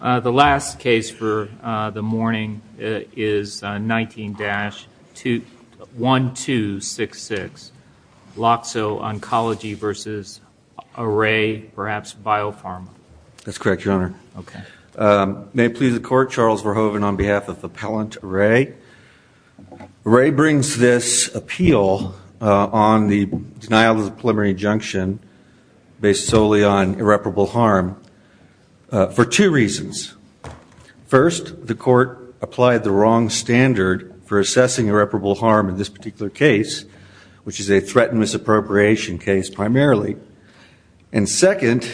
The last case for the morning is 19-1266, Loxo Oncology v. Array, perhaps Biopharma. That's correct, Your Honor. May it please the Court, Charles Verhoeven on behalf of Appellant Array. Array brings this appeal on the denial of the preliminary injunction based solely on irreparable harm for two reasons. First, the Court applied the wrong standard for assessing irreparable harm in this particular case, which is a threatened misappropriation case primarily. And second,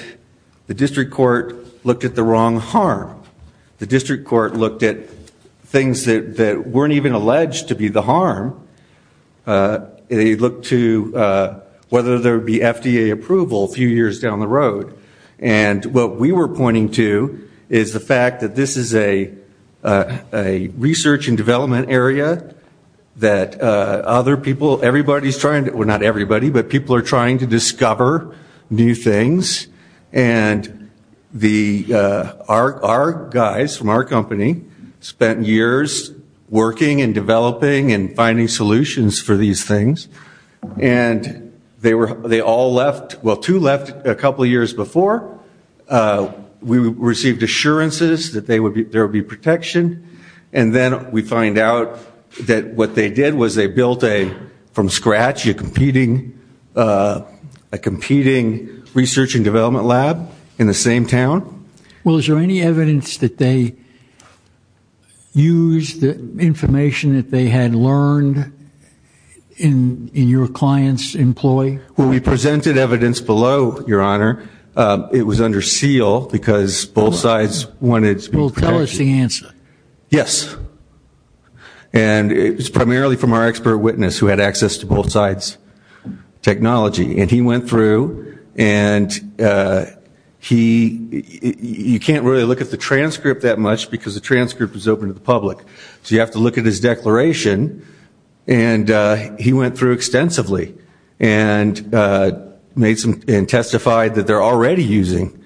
the District Court looked at the wrong harm. The District Court looked at things that weren't even alleged to be the harm. They looked to whether there would be FDA approval a few years down the road. And what we were pointing to is the fact that this is a research and development area that other people, everybody's trying to, well, not everybody, but people are trying to discover new things. And our guys from our company spent years working and developing and finding solutions for these things. And they all left, well, two left a couple of years before. We received assurances that there would be protection. And then we find out that what they did was they built a, from scratch, a competing research and development lab in the same town. Well, is there any evidence that they used the information that they had learned in your client's employee? Well, we presented evidence below, Your Honor. It was under seal because both sides wanted to be protected. Well, tell us the answer. Yes. And it was primarily from our expert witness who had access to both sides' technology. And he went through and he, you can't really look at the transcript that much because the transcript is open to the public. So you have to look at his declaration. And he went through extensively and made some, and testified that they're already using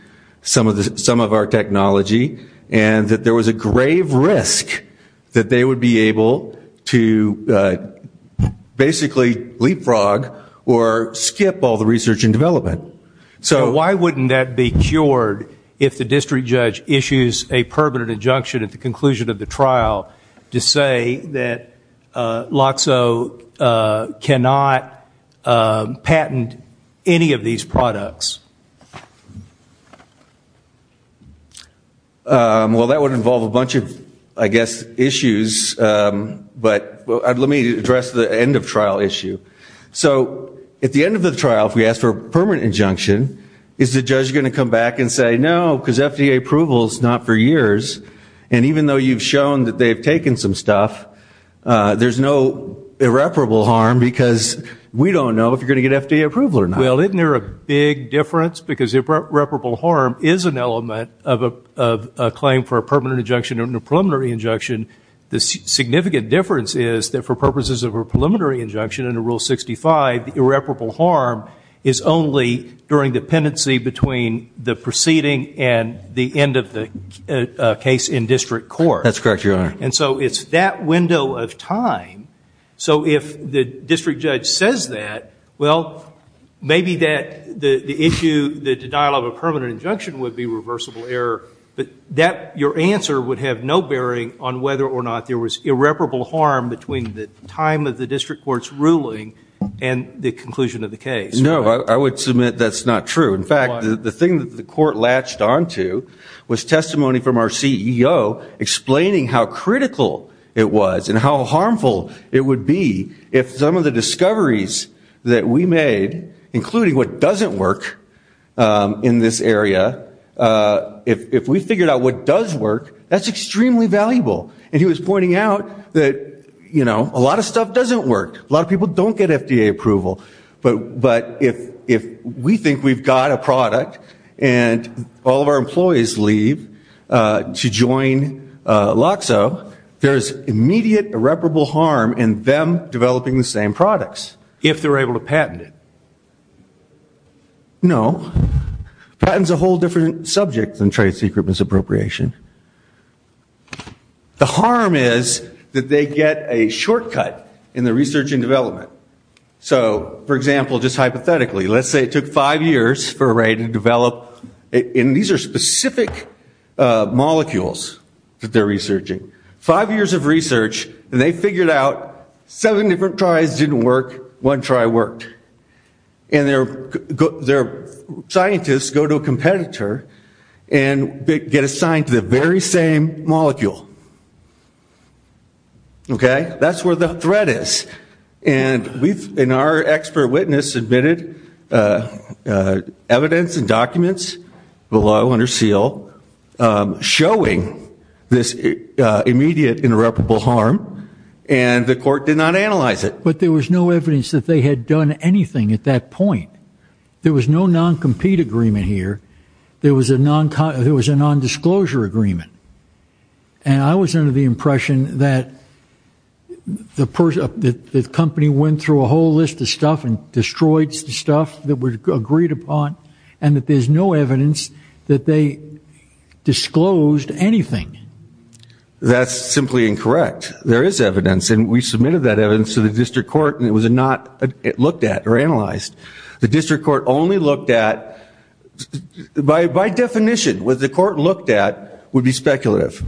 some of our technology and that there was a grave risk that they would be able to basically leapfrog or skip all the research and development. So why wouldn't that be cured if the district judge issues a permanent injunction at the conclusion of the trial to say that LOXO cannot patent any of these products? Well, that would involve a bunch of, I guess, issues. But let me address the end-of-trial issue. So at the end of the trial, if we ask for a permanent injunction, is the judge going to come back and say, no, because FDA approval is not for years, and even though you've shown that they've taken some stuff, there's no irreparable harm because we don't know if you're going to get FDA approval or not. Well, isn't there a big difference? Because irreparable harm is an element of a claim for a permanent injunction and a preliminary injunction. The significant difference is that for purposes of a preliminary injunction under Rule 65, irreparable harm is only during dependency between the proceeding and the end of the case in district court. That's correct, Your Honor. And so it's that window of time. So if the district judge says that, well, maybe the issue, the denial of a permanent injunction, would be reversible error. But your answer would have no bearing on whether or not there was irreparable harm between the time of the district court's ruling and the conclusion of the case. No, I would submit that's not true. In fact, the thing that the court latched onto was testimony from our CEO explaining how critical it was and how harmful it would be if some of the discoveries that we made, including what doesn't work in this area, if we figured out what does work, that's extremely valuable. And he was pointing out that, you know, a lot of stuff doesn't work. A lot of people don't get FDA approval. But if we think we've got a product and all of our employees leave to join LOCSO, there is immediate irreparable harm in them developing the same products if they're able to patent it. No. Patent's a whole different subject than trade secret misappropriation. The harm is that they get a shortcut in the research and development. So, for example, just hypothetically, let's say it took five years for a rate to develop. And these are specific molecules that they're researching. Five years of research, and they figured out seven different tries didn't work, one try worked. And their scientists go to a competitor and get assigned to the very same molecule. Okay? That's where the threat is. And we've, in our expert witness, submitted evidence and documents below under SEAL showing this immediate, irreparable harm. And the court did not analyze it. But there was no evidence that they had done anything at that point. There was no non-compete agreement here. There was a non-disclosure agreement. And I was under the impression that the company went through a whole list of stuff and destroyed stuff that was agreed upon, and that there's no evidence that they disclosed anything. That's simply incorrect. There is evidence. And we submitted that evidence to the district court, and it was not looked at or analyzed. The district court only looked at, by definition, what the court looked at would be speculative.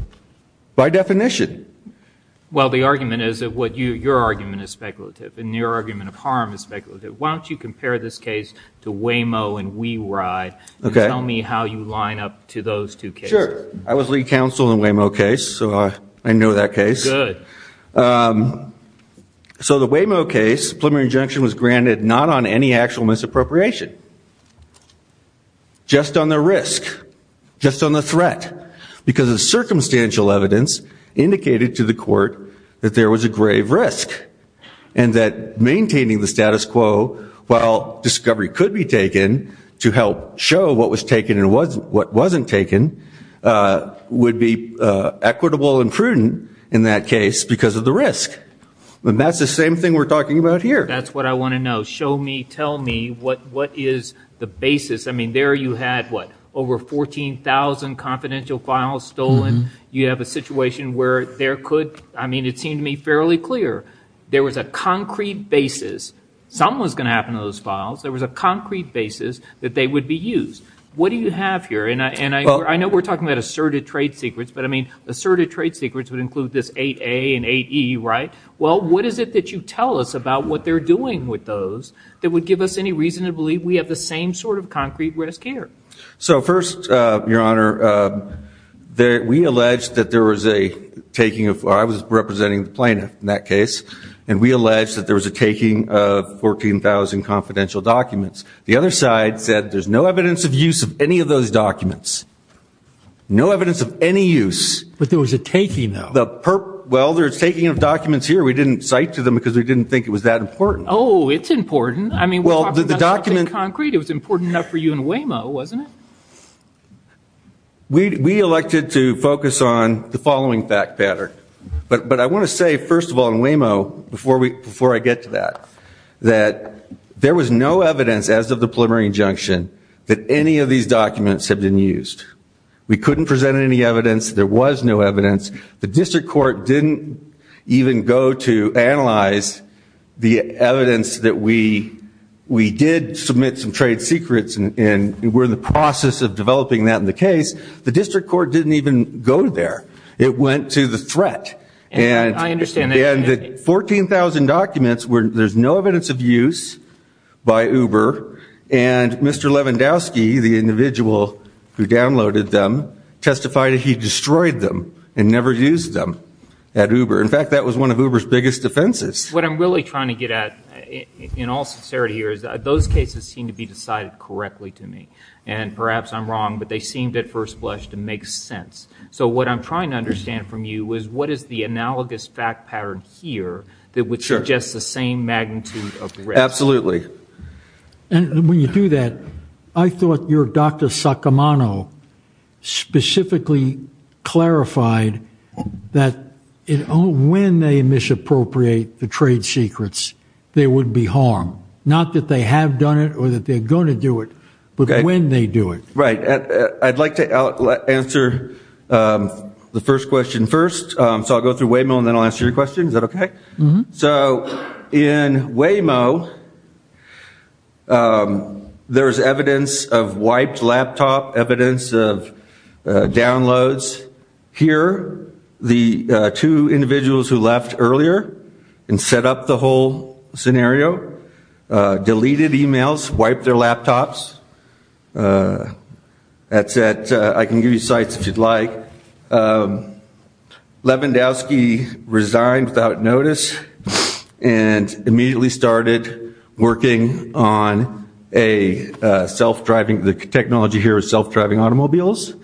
By definition. Well, the argument is that your argument is speculative, and your argument of harm is speculative. Why don't you compare this case to Waymo and WeRide, and tell me how you line up to those two cases. Sure. I was lead counsel in the Waymo case, so I know that case. Good. So the Waymo case, preliminary injunction was granted not on any actual misappropriation, just on the risk, just on the threat, because the circumstantial evidence indicated to the court that there was a grave risk and that maintaining the status quo while discovery could be taken to help show what was taken and what wasn't taken would be equitable and prudent in that case because of the risk. And that's the same thing we're talking about here. That's what I want to know. Show me, tell me, what is the basis. I mean, there you had, what, over 14,000 confidential files stolen. You have a situation where there could, I mean, it seemed to me fairly clear. There was a concrete basis. Something was going to happen to those files. There was a concrete basis that they would be used. What do you have here? And I know we're talking about asserted trade secrets, but I mean, asserted trade secrets would include this 8A and 8E, right? Well, what is it that you tell us about what they're doing with those that would give us any reason to believe we have the same sort of concrete risk here? So first, Your Honor, we allege that there was a taking of, I was representing the plaintiff in that case, and we allege that there was a taking of 14,000 confidential documents. The other side said there's no evidence of use of any of those documents. No evidence of any use. But there was a taking, though. Well, there's taking of documents here. We didn't cite to them because we didn't think it was that important. Oh, it's important. I mean, we're talking about something concrete. It was important enough for you in Waymo, wasn't it? We elected to focus on the following fact pattern. But I want to say, first of all, in Waymo, before I get to that, that there was no evidence, as of the preliminary injunction, that any of these documents had been used. We couldn't present any evidence. There was no evidence. The district court didn't even go to analyze the evidence that we did submit some trade secrets and we're in the process of developing that in the case. The district court didn't even go there. It went to the threat. I understand that. And the 14,000 documents, there's no evidence of use by Uber. And Mr. Lewandowski, the individual who downloaded them, testified that he destroyed them and never used them at Uber. In fact, that was one of Uber's biggest defenses. What I'm really trying to get at, in all sincerity here, is those cases seem to be decided correctly to me. And perhaps I'm wrong, but they seemed at first blush to make sense. So what I'm trying to understand from you is what is the analogous fact pattern here that would suggest the same magnitude of risk? Absolutely. And when you do that, I thought your Dr. Saccomano specifically clarified that when they misappropriate the trade secrets, there would be harm. Not that they have done it or that they're going to do it, but when they do it. Right. I'd like to answer the first question first. So I'll go through Waymo and then I'll answer your question. Is that okay? So in Waymo, there's evidence of wiped laptop, evidence of downloads. Here, the two individuals who left earlier and set up the whole scenario, deleted emails, wiped their laptops. I can give you sites if you'd like. Lewandowski resigned without notice and immediately started working on a self-driving, the technology here is self-driving automobiles,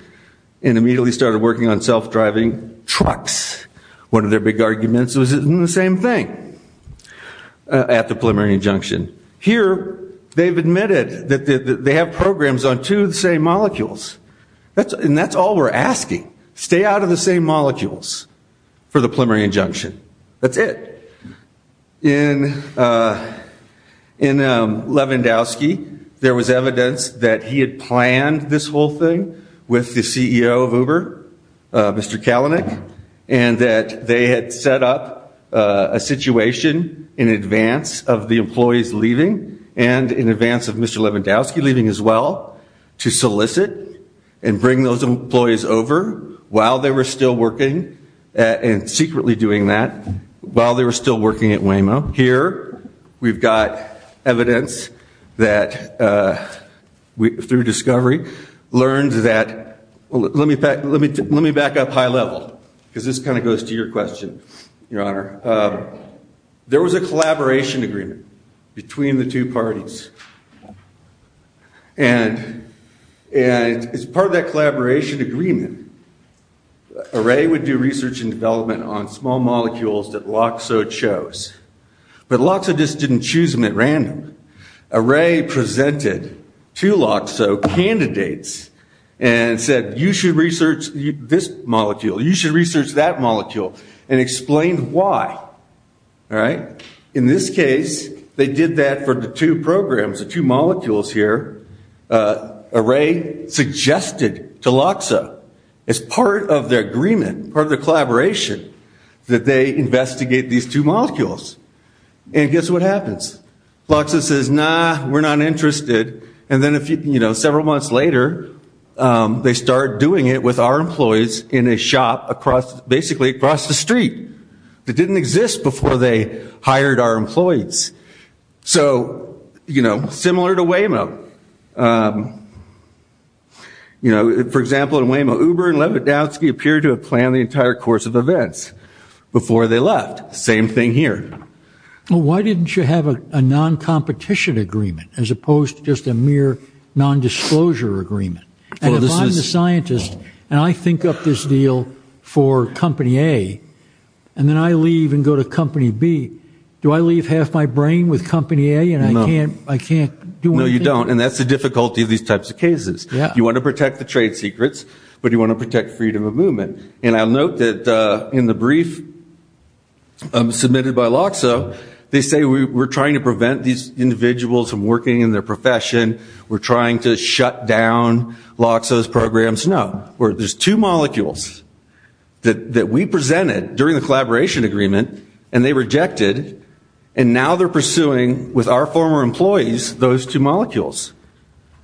and immediately started working on self-driving trucks. One of their big arguments was it isn't the same thing at the preliminary injunction. Here, they've admitted that they have programs on two of the same molecules. And that's all we're asking. Stay out of the same molecules for the preliminary injunction. That's it. In Lewandowski, there was evidence that he had planned this whole thing with the CEO of Uber, Mr. Kalanick, and that they had set up a situation in advance of the employees leaving and in advance of Mr. Lewandowski leaving as well to solicit and bring those employees over while they were still working and secretly doing that while they were still working at Waymo. Here, we've got evidence that through discovery learned that, let me back up high level because this kind of goes to your question, Your Honor. There was a collaboration agreement between the two parties. And as part of that collaboration agreement, Array would do research and development on small molecules that LOXO chose. But LOXO just didn't choose them at random. Array presented to LOXO candidates and said, You should research this molecule. You should research that molecule. And explained why. In this case, they did that for the two programs, the two molecules here. Array suggested to LOXO as part of their agreement, part of their collaboration, that they investigate these two molecules. And guess what happens? LOXO says, Nah, we're not interested. And then several months later, they start doing it with our employees in a shop basically across the street that didn't exist before they hired our employees. So, you know, similar to Waymo. You know, for example, in Waymo, Uber and Levodowsky appeared to have planned the entire course of events before they left. Same thing here. Why didn't you have a non-competition agreement as opposed to just a mere non-disclosure agreement? And if I'm the scientist and I think up this deal for company A, and then I leave and go to company B, do I leave half my brain with company A and I can't do anything? No, you don't. And that's the difficulty of these types of cases. You want to protect the trade secrets, but you want to protect freedom of movement. And I'll note that in the brief submitted by LOXO, they say we're trying to prevent these individuals from working in their profession. We're trying to shut down LOXO's programs. No. There's two molecules that we presented during the collaboration agreement, and they rejected. And now they're pursuing, with our former employees, those two molecules.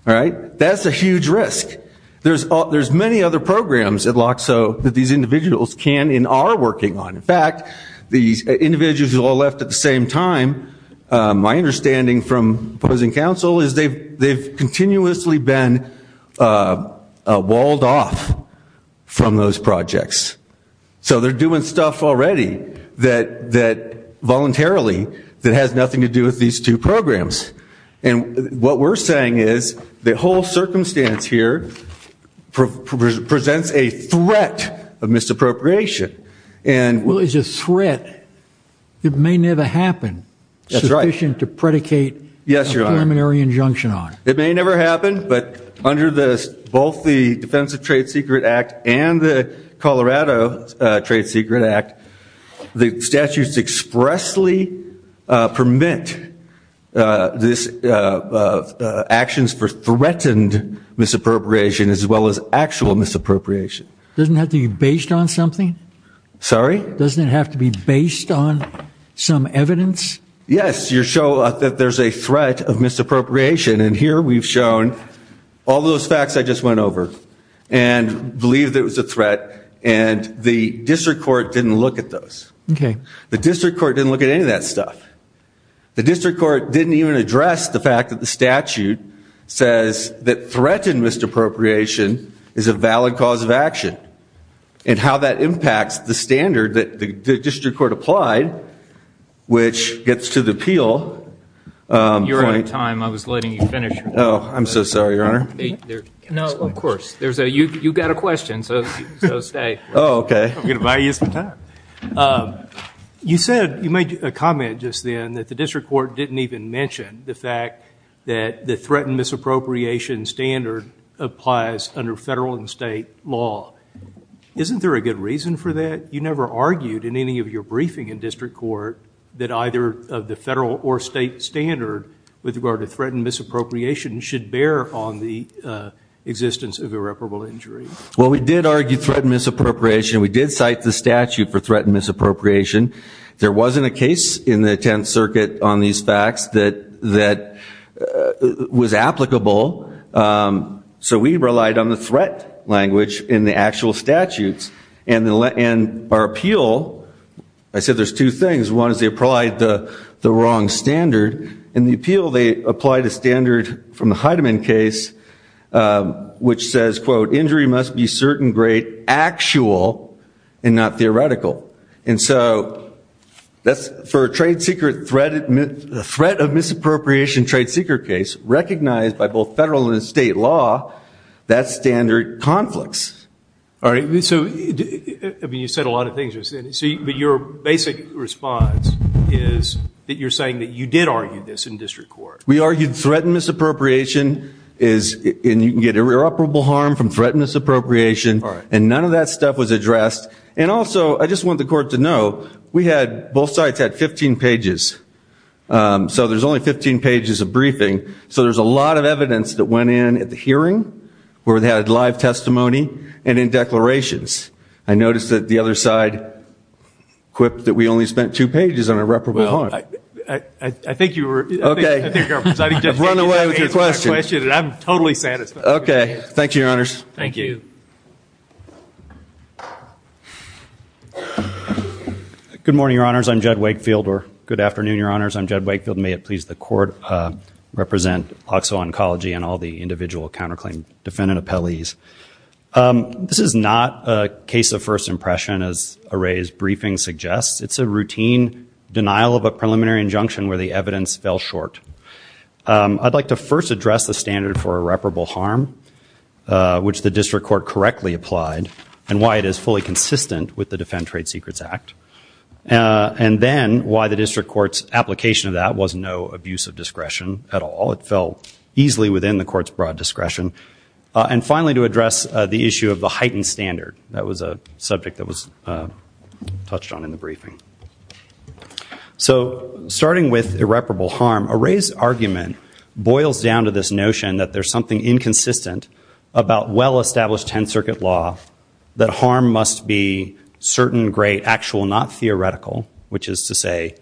All right? That's a huge risk. There's many other programs at LOXO that these individuals can and are working on. In fact, these individuals who all left at the same time, my understanding from opposing counsel is they've continuously been walled off from those projects. So they're doing stuff already voluntarily that has nothing to do with these two programs. And what we're saying is the whole circumstance here presents a threat of misappropriation. Well, it's a threat that may never happen sufficient to predicate a preliminary injunction on. It may never happen, but under both the Defense of Trade Secret Act and the Colorado Trade Secret Act, the statutes expressly permit actions for threatened misappropriation as well as actual misappropriation. Doesn't it have to be based on something? Sorry? Doesn't it have to be based on some evidence? Yes. You show that there's a threat of misappropriation. And here we've shown all those facts I just went over and believe that it was a threat. And the district court didn't look at those. The district court didn't look at any of that stuff. The district court didn't even address the fact that the statute says that threatened misappropriation is a valid cause of action and how that impacts the standard that the district court applied, which gets to the appeal point. You're out of time. I was letting you finish. Oh, I'm so sorry, Your Honor. No, of course. You've got a question, so stay. Oh, OK. I'm going to buy you some time. You said, you made a comment just then, that the district court didn't even mention the fact that the threatened misappropriation standard applies under federal and state law. Isn't there a good reason for that? You never argued in any of your briefing in district court that either of the federal or state standard with regard to threatened misappropriation should bear on the existence of irreparable injury. Well, we did argue threatened misappropriation. We did cite the statute for threatened misappropriation. There wasn't a case in the Tenth Circuit on these facts that was applicable, so we relied on the threat language in the actual statutes. And our appeal, I said there's two things. One is they applied the wrong standard. In the appeal, they applied a standard from the Heidemann case, which says, quote, actual and not theoretical. And so for a threat of misappropriation trade secret case recognized by both federal and state law, that's standard conflicts. All right, so you said a lot of things. But your basic response is that you're saying that you did argue this in district court. We argued threatened misappropriation and you can get irreparable harm from threatened misappropriation. And none of that stuff was addressed. And also, I just want the court to know, we had both sides had 15 pages. So there's only 15 pages of briefing. So there's a lot of evidence that went in at the hearing where they had live testimony and in declarations. I noticed that the other side quipped that we only spent two pages on irreparable harm. I think you were. OK. I've run away with your question. I'm totally satisfied. OK. Thank you, Your Honors. Thank you. Good morning, Your Honors. I'm Jed Wakefield. Or good afternoon, Your Honors. I'm Jed Wakefield. May it please the court, represent OXO Oncology and all the individual counterclaim defendant appellees. This is not a case of first impression, as Array's briefing suggests. It's a routine denial of a preliminary injunction where the evidence fell short. I'd like to first address the standard for irreparable harm, which the district court correctly applied, and why it is fully consistent with the Defend Trade Secrets Act, and then why the district court's application of that was no abuse of discretion at all. It fell easily within the court's broad discretion. And finally, to address the issue of the heightened standard. That was a subject that was touched on in the briefing. So starting with irreparable harm, Array's argument boils down to this notion that there's something inconsistent about well-established Tenth Circuit law, that harm must be certain, great, actual, not theoretical, which is to say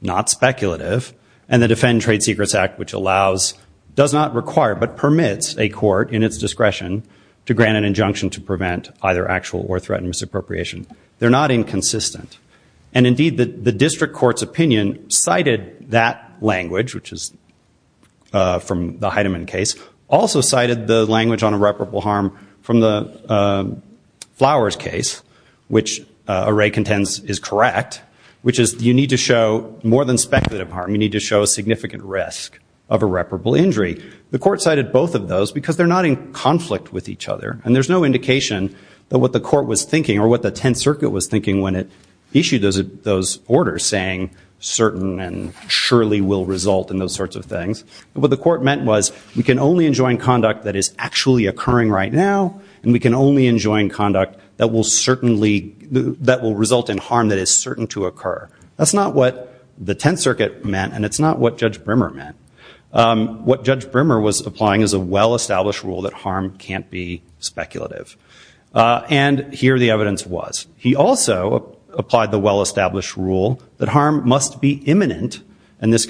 not speculative, and the Defend Trade Secrets Act, which allows, does not require, but permits a court in its discretion to grant an injunction to prevent either actual or threatened misappropriation. They're not inconsistent. And indeed, the district court's opinion cited that language, which is from the Heidemann case, also cited the language on irreparable harm from the Flowers case, which Array contends is correct, which is you need to show more than speculative harm. You need to show a significant risk of irreparable injury. The court cited both of those because they're not in conflict with each other, and there's no indication that what the court was thinking or what the Tenth Circuit was thinking when it issued those orders, saying certain and surely will result in those sorts of things. What the court meant was we can only enjoin conduct that is actually occurring right now, and we can only enjoin conduct that will result in harm that is certain to occur. That's not what the Tenth Circuit meant, and it's not what Judge Brimmer meant. What Judge Brimmer was applying is a well-established rule that harm can't be speculative. And here the evidence was. He also applied the well-established rule that harm must be imminent, and this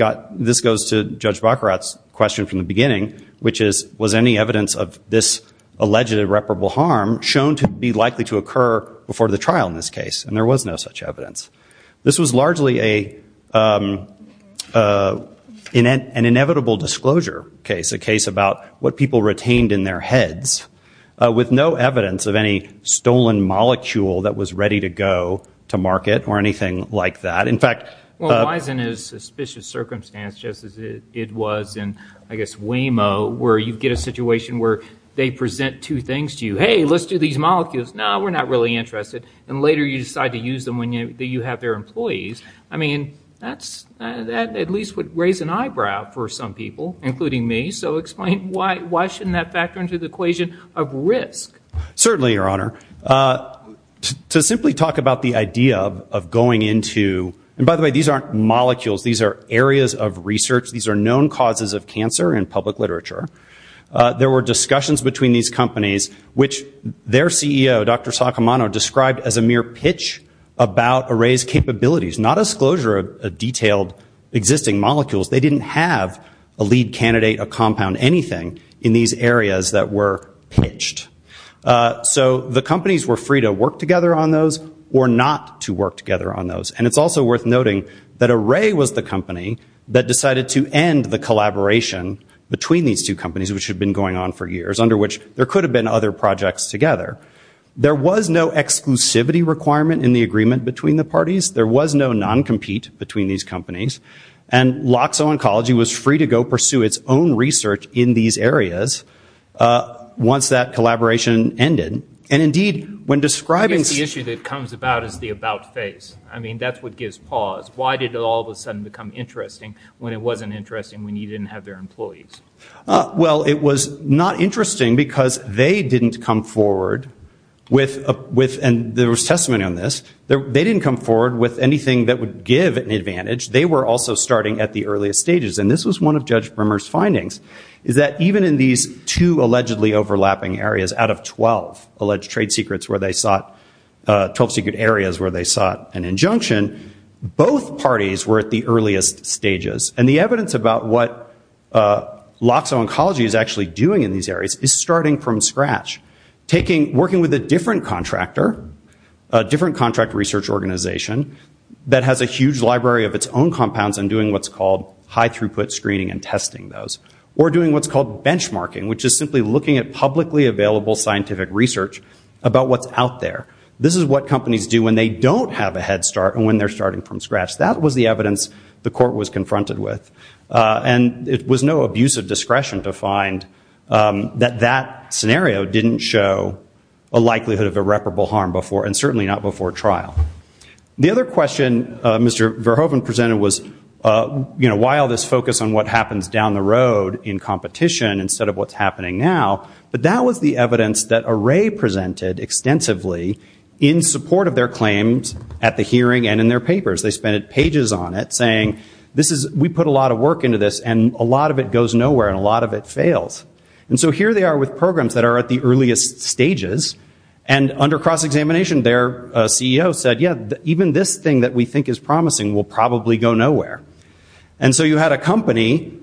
goes to Judge Baccarat's question from the beginning, which is was any evidence of this alleged irreparable harm shown to be likely to occur before the trial in this case? And there was no such evidence. This was largely an inevitable disclosure case, a case about what people retained in their heads, with no evidence of any stolen molecule that was ready to go to market or anything like that. In fact- Well, why is it in a suspicious circumstance just as it was in, I guess, Waymo where you get a situation where they present two things to you? Hey, let's do these molecules. No, we're not really interested. And later you decide to use them when you have their employees. I mean, that at least would raise an eyebrow for some people, including me. So explain why shouldn't that factor into the equation of risk? Certainly, Your Honor. To simply talk about the idea of going into- and by the way, these aren't molecules. These are areas of research. These are known causes of cancer in public literature. There were discussions between these companies, which their CEO, Dr. Sakamano, described as a mere pitch about Array's capabilities, not a disclosure of detailed existing molecules. They didn't have a lead candidate, a compound, anything in these areas that were pitched. So the companies were free to work together on those or not to work together on those. And it's also worth noting that Array was the company that decided to end the collaboration between these two companies, which had been going on for years, under which there could have been other projects together. There was no exclusivity requirement in the agreement between the parties. There was no non-compete between these companies. And Loxo Oncology was free to go pursue its own research in these areas once that collaboration ended. And indeed, when describing- I guess the issue that comes about is the about phase. I mean, that's what gives pause. Why did it all of a sudden become interesting when it wasn't interesting when you didn't have their employees? Well, it was not interesting because they didn't come forward with- and there was testimony on this- they didn't come forward with anything that would give an advantage. They were also starting at the earliest stages. And this was one of Judge Brimmer's findings, is that even in these two allegedly overlapping areas out of 12 alleged trade secrets where they sought- in conjunction, both parties were at the earliest stages. And the evidence about what Loxo Oncology is actually doing in these areas is starting from scratch. Working with a different contractor, a different contract research organization, that has a huge library of its own compounds and doing what's called high-throughput screening and testing those. Or doing what's called benchmarking, which is simply looking at publicly available scientific research about what's out there. This is what companies do when they don't have a head start and when they're starting from scratch. That was the evidence the court was confronted with. And it was no abuse of discretion to find that that scenario didn't show a likelihood of irreparable harm before, and certainly not before trial. The other question Mr. Verhoeven presented was, why all this focus on what happens down the road in competition instead of what's happening now? But that was the evidence that Array presented extensively in support of their claims at the hearing and in their papers. They spent pages on it saying, we put a lot of work into this and a lot of it goes nowhere and a lot of it fails. And so here they are with programs that are at the earliest stages, and under cross-examination their CEO said, yeah, even this thing that we think is promising will probably go nowhere. And so you had a company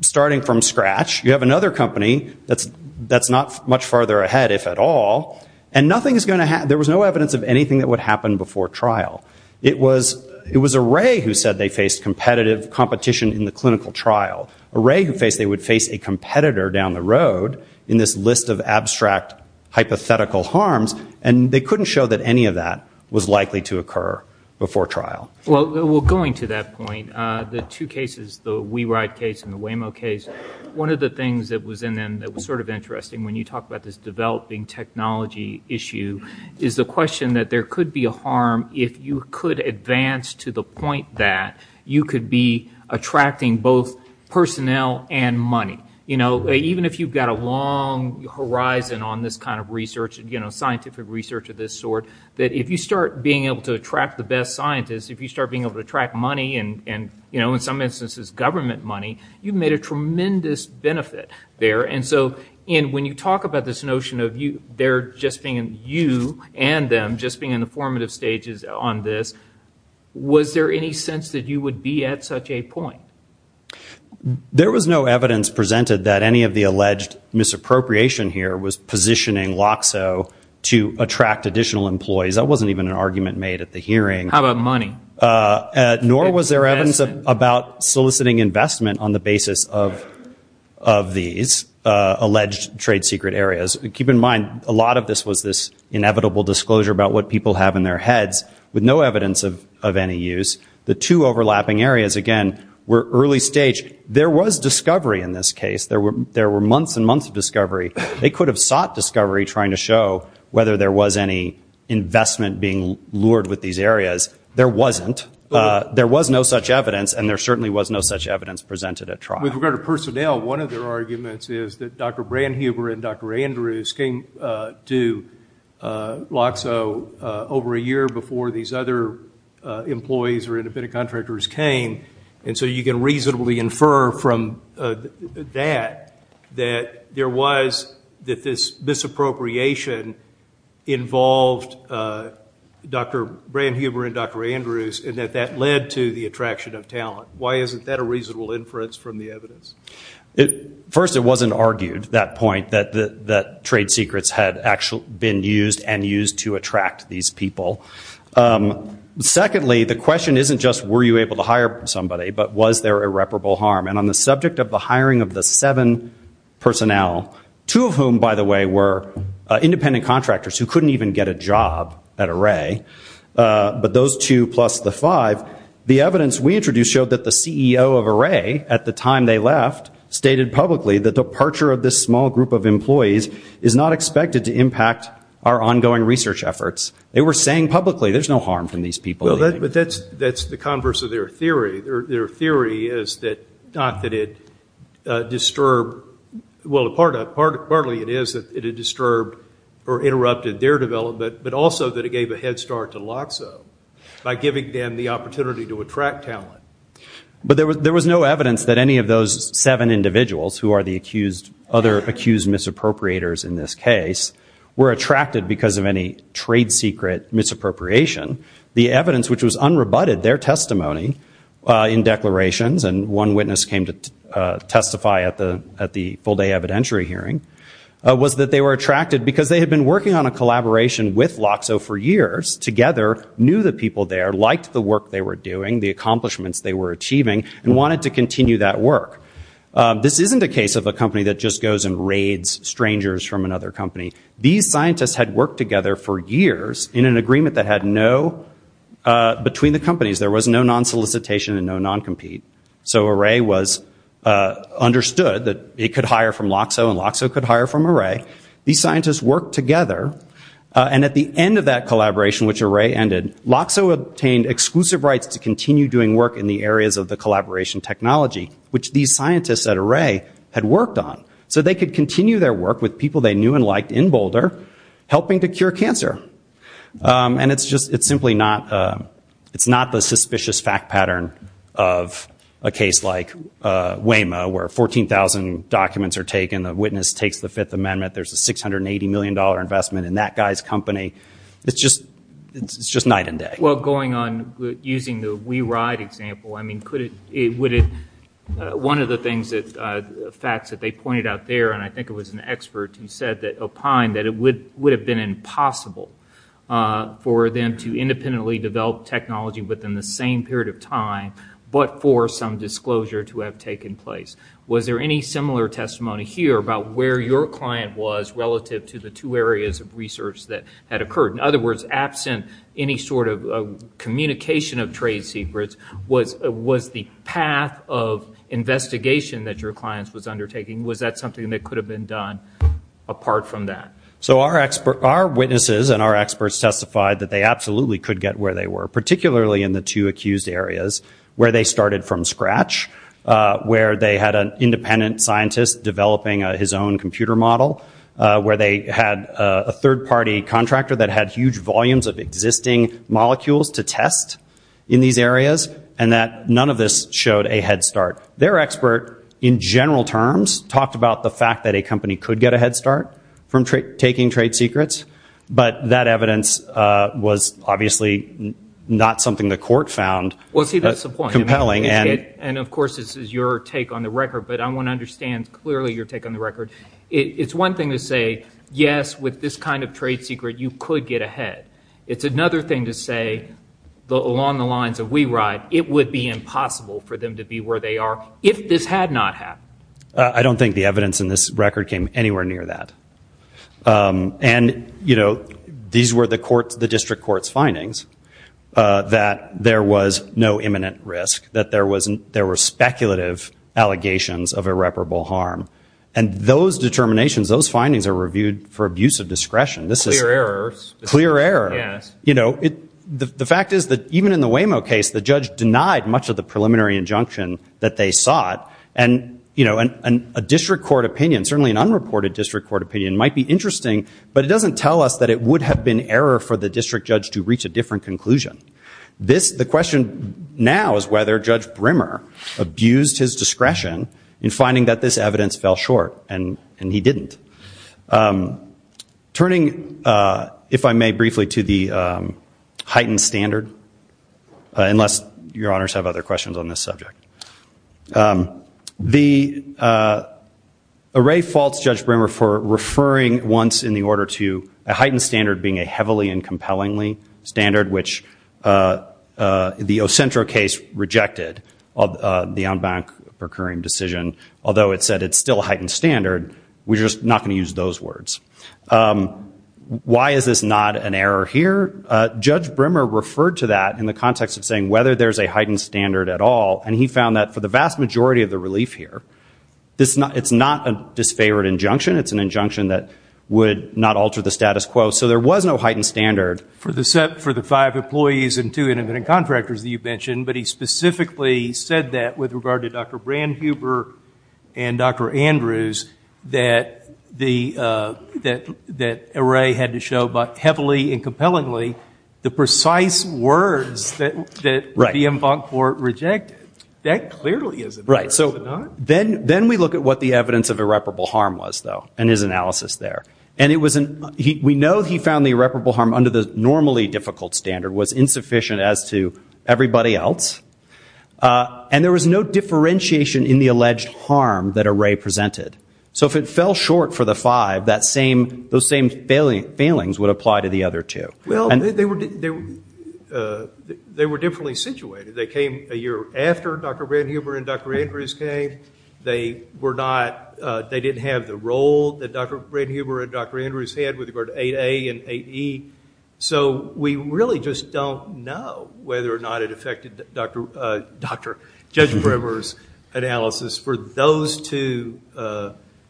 starting from scratch. You have another company that's not much farther ahead, if at all, and there was no evidence of anything that would happen before trial. It was Array who said they faced competition in the clinical trial. Array would face a competitor down the road in this list of abstract hypothetical harms, and they couldn't show that any of that was likely to occur before trial. Well, going to that point, the two cases, the We Ride case and the Waymo case, one of the things that was in them that was sort of interesting when you talk about this developing technology issue is the question that there could be a harm if you could advance to the point that you could be attracting both personnel and money. Even if you've got a long horizon on this kind of research, scientific research of this sort, that if you start being able to attract the best scientists, if you start being able to attract money, and in some instances government money, you've made a tremendous benefit there. And so when you talk about this notion of you and them just being in the formative stages on this, was there any sense that you would be at such a point? There was no evidence presented that any of the alleged misappropriation here was positioning LOCSO to attract additional employees. That wasn't even an argument made at the hearing. How about money? Nor was there evidence about soliciting investment on the basis of these alleged trade secret areas. Keep in mind, a lot of this was this inevitable disclosure about what people have in their heads with no evidence of any use. The two overlapping areas, again, were early stage. There was discovery in this case. There were months and months of discovery. They could have sought discovery trying to show whether there was any investment being lured with these areas. There wasn't. There was no such evidence, and there certainly was no such evidence presented at trial. With regard to personnel, one of their arguments is that Dr. Brandhuber and Dr. Andrews came to LOCSO over a year before these other employees or independent contractors came, and so you can reasonably infer from that that this misappropriation involved Dr. Brandhuber and Dr. Andrews and that that led to the attraction of talent. Why isn't that a reasonable inference from the evidence? First, it wasn't argued at that point that trade secrets had actually been used and used to attract these people. Secondly, the question isn't just were you able to hire somebody, but was there irreparable harm? And on the subject of the hiring of the seven personnel, two of whom, by the way, were independent contractors who couldn't even get a job at Array, but those two plus the five, the evidence we introduced showed that the CEO of Array at the time they left stated publicly the departure of this small group of employees is not expected to impact our ongoing research efforts. They were saying publicly there's no harm from these people. But that's the converse of their theory. Their theory is that not that it disturbed, well, partly it is that it had disturbed or interrupted their development, but also that it gave a head start to LOCSO by giving them the opportunity to attract talent. But there was no evidence that any of those seven individuals who are the other accused misappropriators in this case were attracted because of any trade secret misappropriation. The evidence which was unrebutted, their testimony in declarations, and one witness came to testify at the full-day evidentiary hearing, was that they were attracted because they had been working on a collaboration with LOCSO for years, together, knew the people there, liked the work they were doing, the accomplishments they were achieving, and wanted to continue that work. This isn't a case of a company that just goes and raids strangers from another company. These scientists had worked together for years in an agreement that had no, between the companies, there was no non-solicitation and no non-compete. So Array was understood that it could hire from LOCSO and LOCSO could hire from Array. These scientists worked together. And at the end of that collaboration, which Array ended, LOCSO obtained exclusive rights to continue doing work in the areas of the collaboration technology, which these scientists at Array had worked on. So they could continue their work with people they knew and liked in Boulder, helping to cure cancer. And it's just, it's simply not, it's not the suspicious fact pattern of a case like Waymo, where 14,000 documents are taken, the witness takes the Fifth Amendment, there's a $680 million investment in that guy's company. It's just, it's just night and day. Well, going on, using the We Ride example, I mean, could it, would it, one of the things that, facts that they pointed out there, and I think it was an expert who said that, opined that it would have been impossible for them to independently develop technology within the same period of time, but for some disclosure to have taken place. Was there any similar testimony here about where your client was relative to the two areas of research that had occurred? In other words, absent any sort of communication of trade secrets, was the path of investigation that your client was undertaking, was that something that could have been done apart from that? So our witnesses and our experts testified that they absolutely could get where they were, particularly in the two accused areas where they started from scratch, where they had an independent scientist developing his own computer model, where they had a third-party contractor that had huge volumes of existing molecules to test in these areas, and that none of this showed a head start. Their expert, in general terms, talked about the fact that a company could get a head start from taking trade secrets, but that evidence was obviously not something the court found compelling. Well, see, that's the point, and of course this is your take on the record, it's one thing to say, yes, with this kind of trade secret you could get a head. It's another thing to say, along the lines of we ride, it would be impossible for them to be where they are if this had not happened. I don't think the evidence in this record came anywhere near that. And, you know, these were the district court's findings, that there was no imminent risk, that there were speculative allegations of irreparable harm. And those determinations, those findings are reviewed for abuse of discretion. Clear errors. Clear errors. Yes. You know, the fact is that even in the Waymo case, the judge denied much of the preliminary injunction that they sought, and a district court opinion, certainly an unreported district court opinion, might be interesting, but it doesn't tell us that it would have been error for the district judge to reach a different conclusion. The question now is whether Judge Brimmer abused his discretion in finding that this evidence fell short, and he didn't. Turning, if I may briefly, to the heightened standard, unless your honors have other questions on this subject. The array faults Judge Brimmer for referring once in the order to a heightened standard being a heavily and compellingly standard, which the Ocentro case rejected the en banc procuring decision, although it said it's still a heightened standard. We're just not going to use those words. Why is this not an error here? Judge Brimmer referred to that in the context of saying whether there's a heightened standard at all, and he found that for the vast majority of the relief here, it's not a disfavored injunction. It's an injunction that would not alter the status quo. So there was no heightened standard. For the five employees and two independent contractors that you mentioned, but he specifically said that with regard to Dr. Brandhuber and Dr. Andrews, that array had to show heavily and compellingly the precise words that the en banc court rejected. That clearly is an error, is it not? Then we look at what the evidence of irreparable harm was, though, and his analysis there. We know he found the irreparable harm under the normally difficult standard was insufficient as to everybody else, and there was no differentiation in the alleged harm that array presented. So if it fell short for the five, those same failings would apply to the other two. Well, they were differently situated. They came a year after Dr. Brandhuber and Dr. Andrews came. They didn't have the role that Dr. Brandhuber and Dr. Andrews had with regard to 8A and 8E. So we really just don't know whether or not it affected Judge Brewer's analysis for those two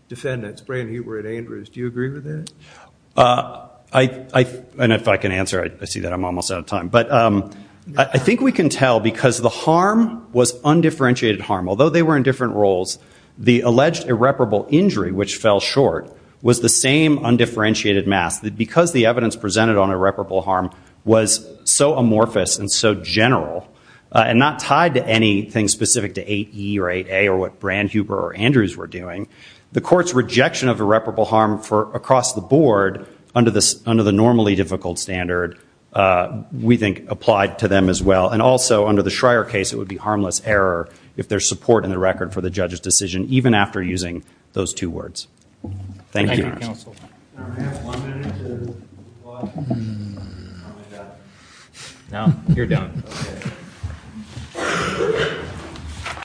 defendants, Brandhuber and Andrews. Do you agree with that? If I can answer, I see that I'm almost out of time. But I think we can tell because the harm was undifferentiated harm. Although they were in different roles, the alleged irreparable injury, which fell short, was the same undifferentiated mass. Because the evidence presented on irreparable harm was so amorphous and so general and not tied to anything specific to 8E or 8A or what Brandhuber or Andrews were doing, the Court's rejection of irreparable harm across the board under the normally difficult standard, we think, applied to them as well. And also, under the Schreyer case, it would be harmless error if there's support in the record for the judge's decision, even after using those two words. Thank you, Your Honor. Thank you, Counsel. Can I have one minute to watch? No, you're done. Okay.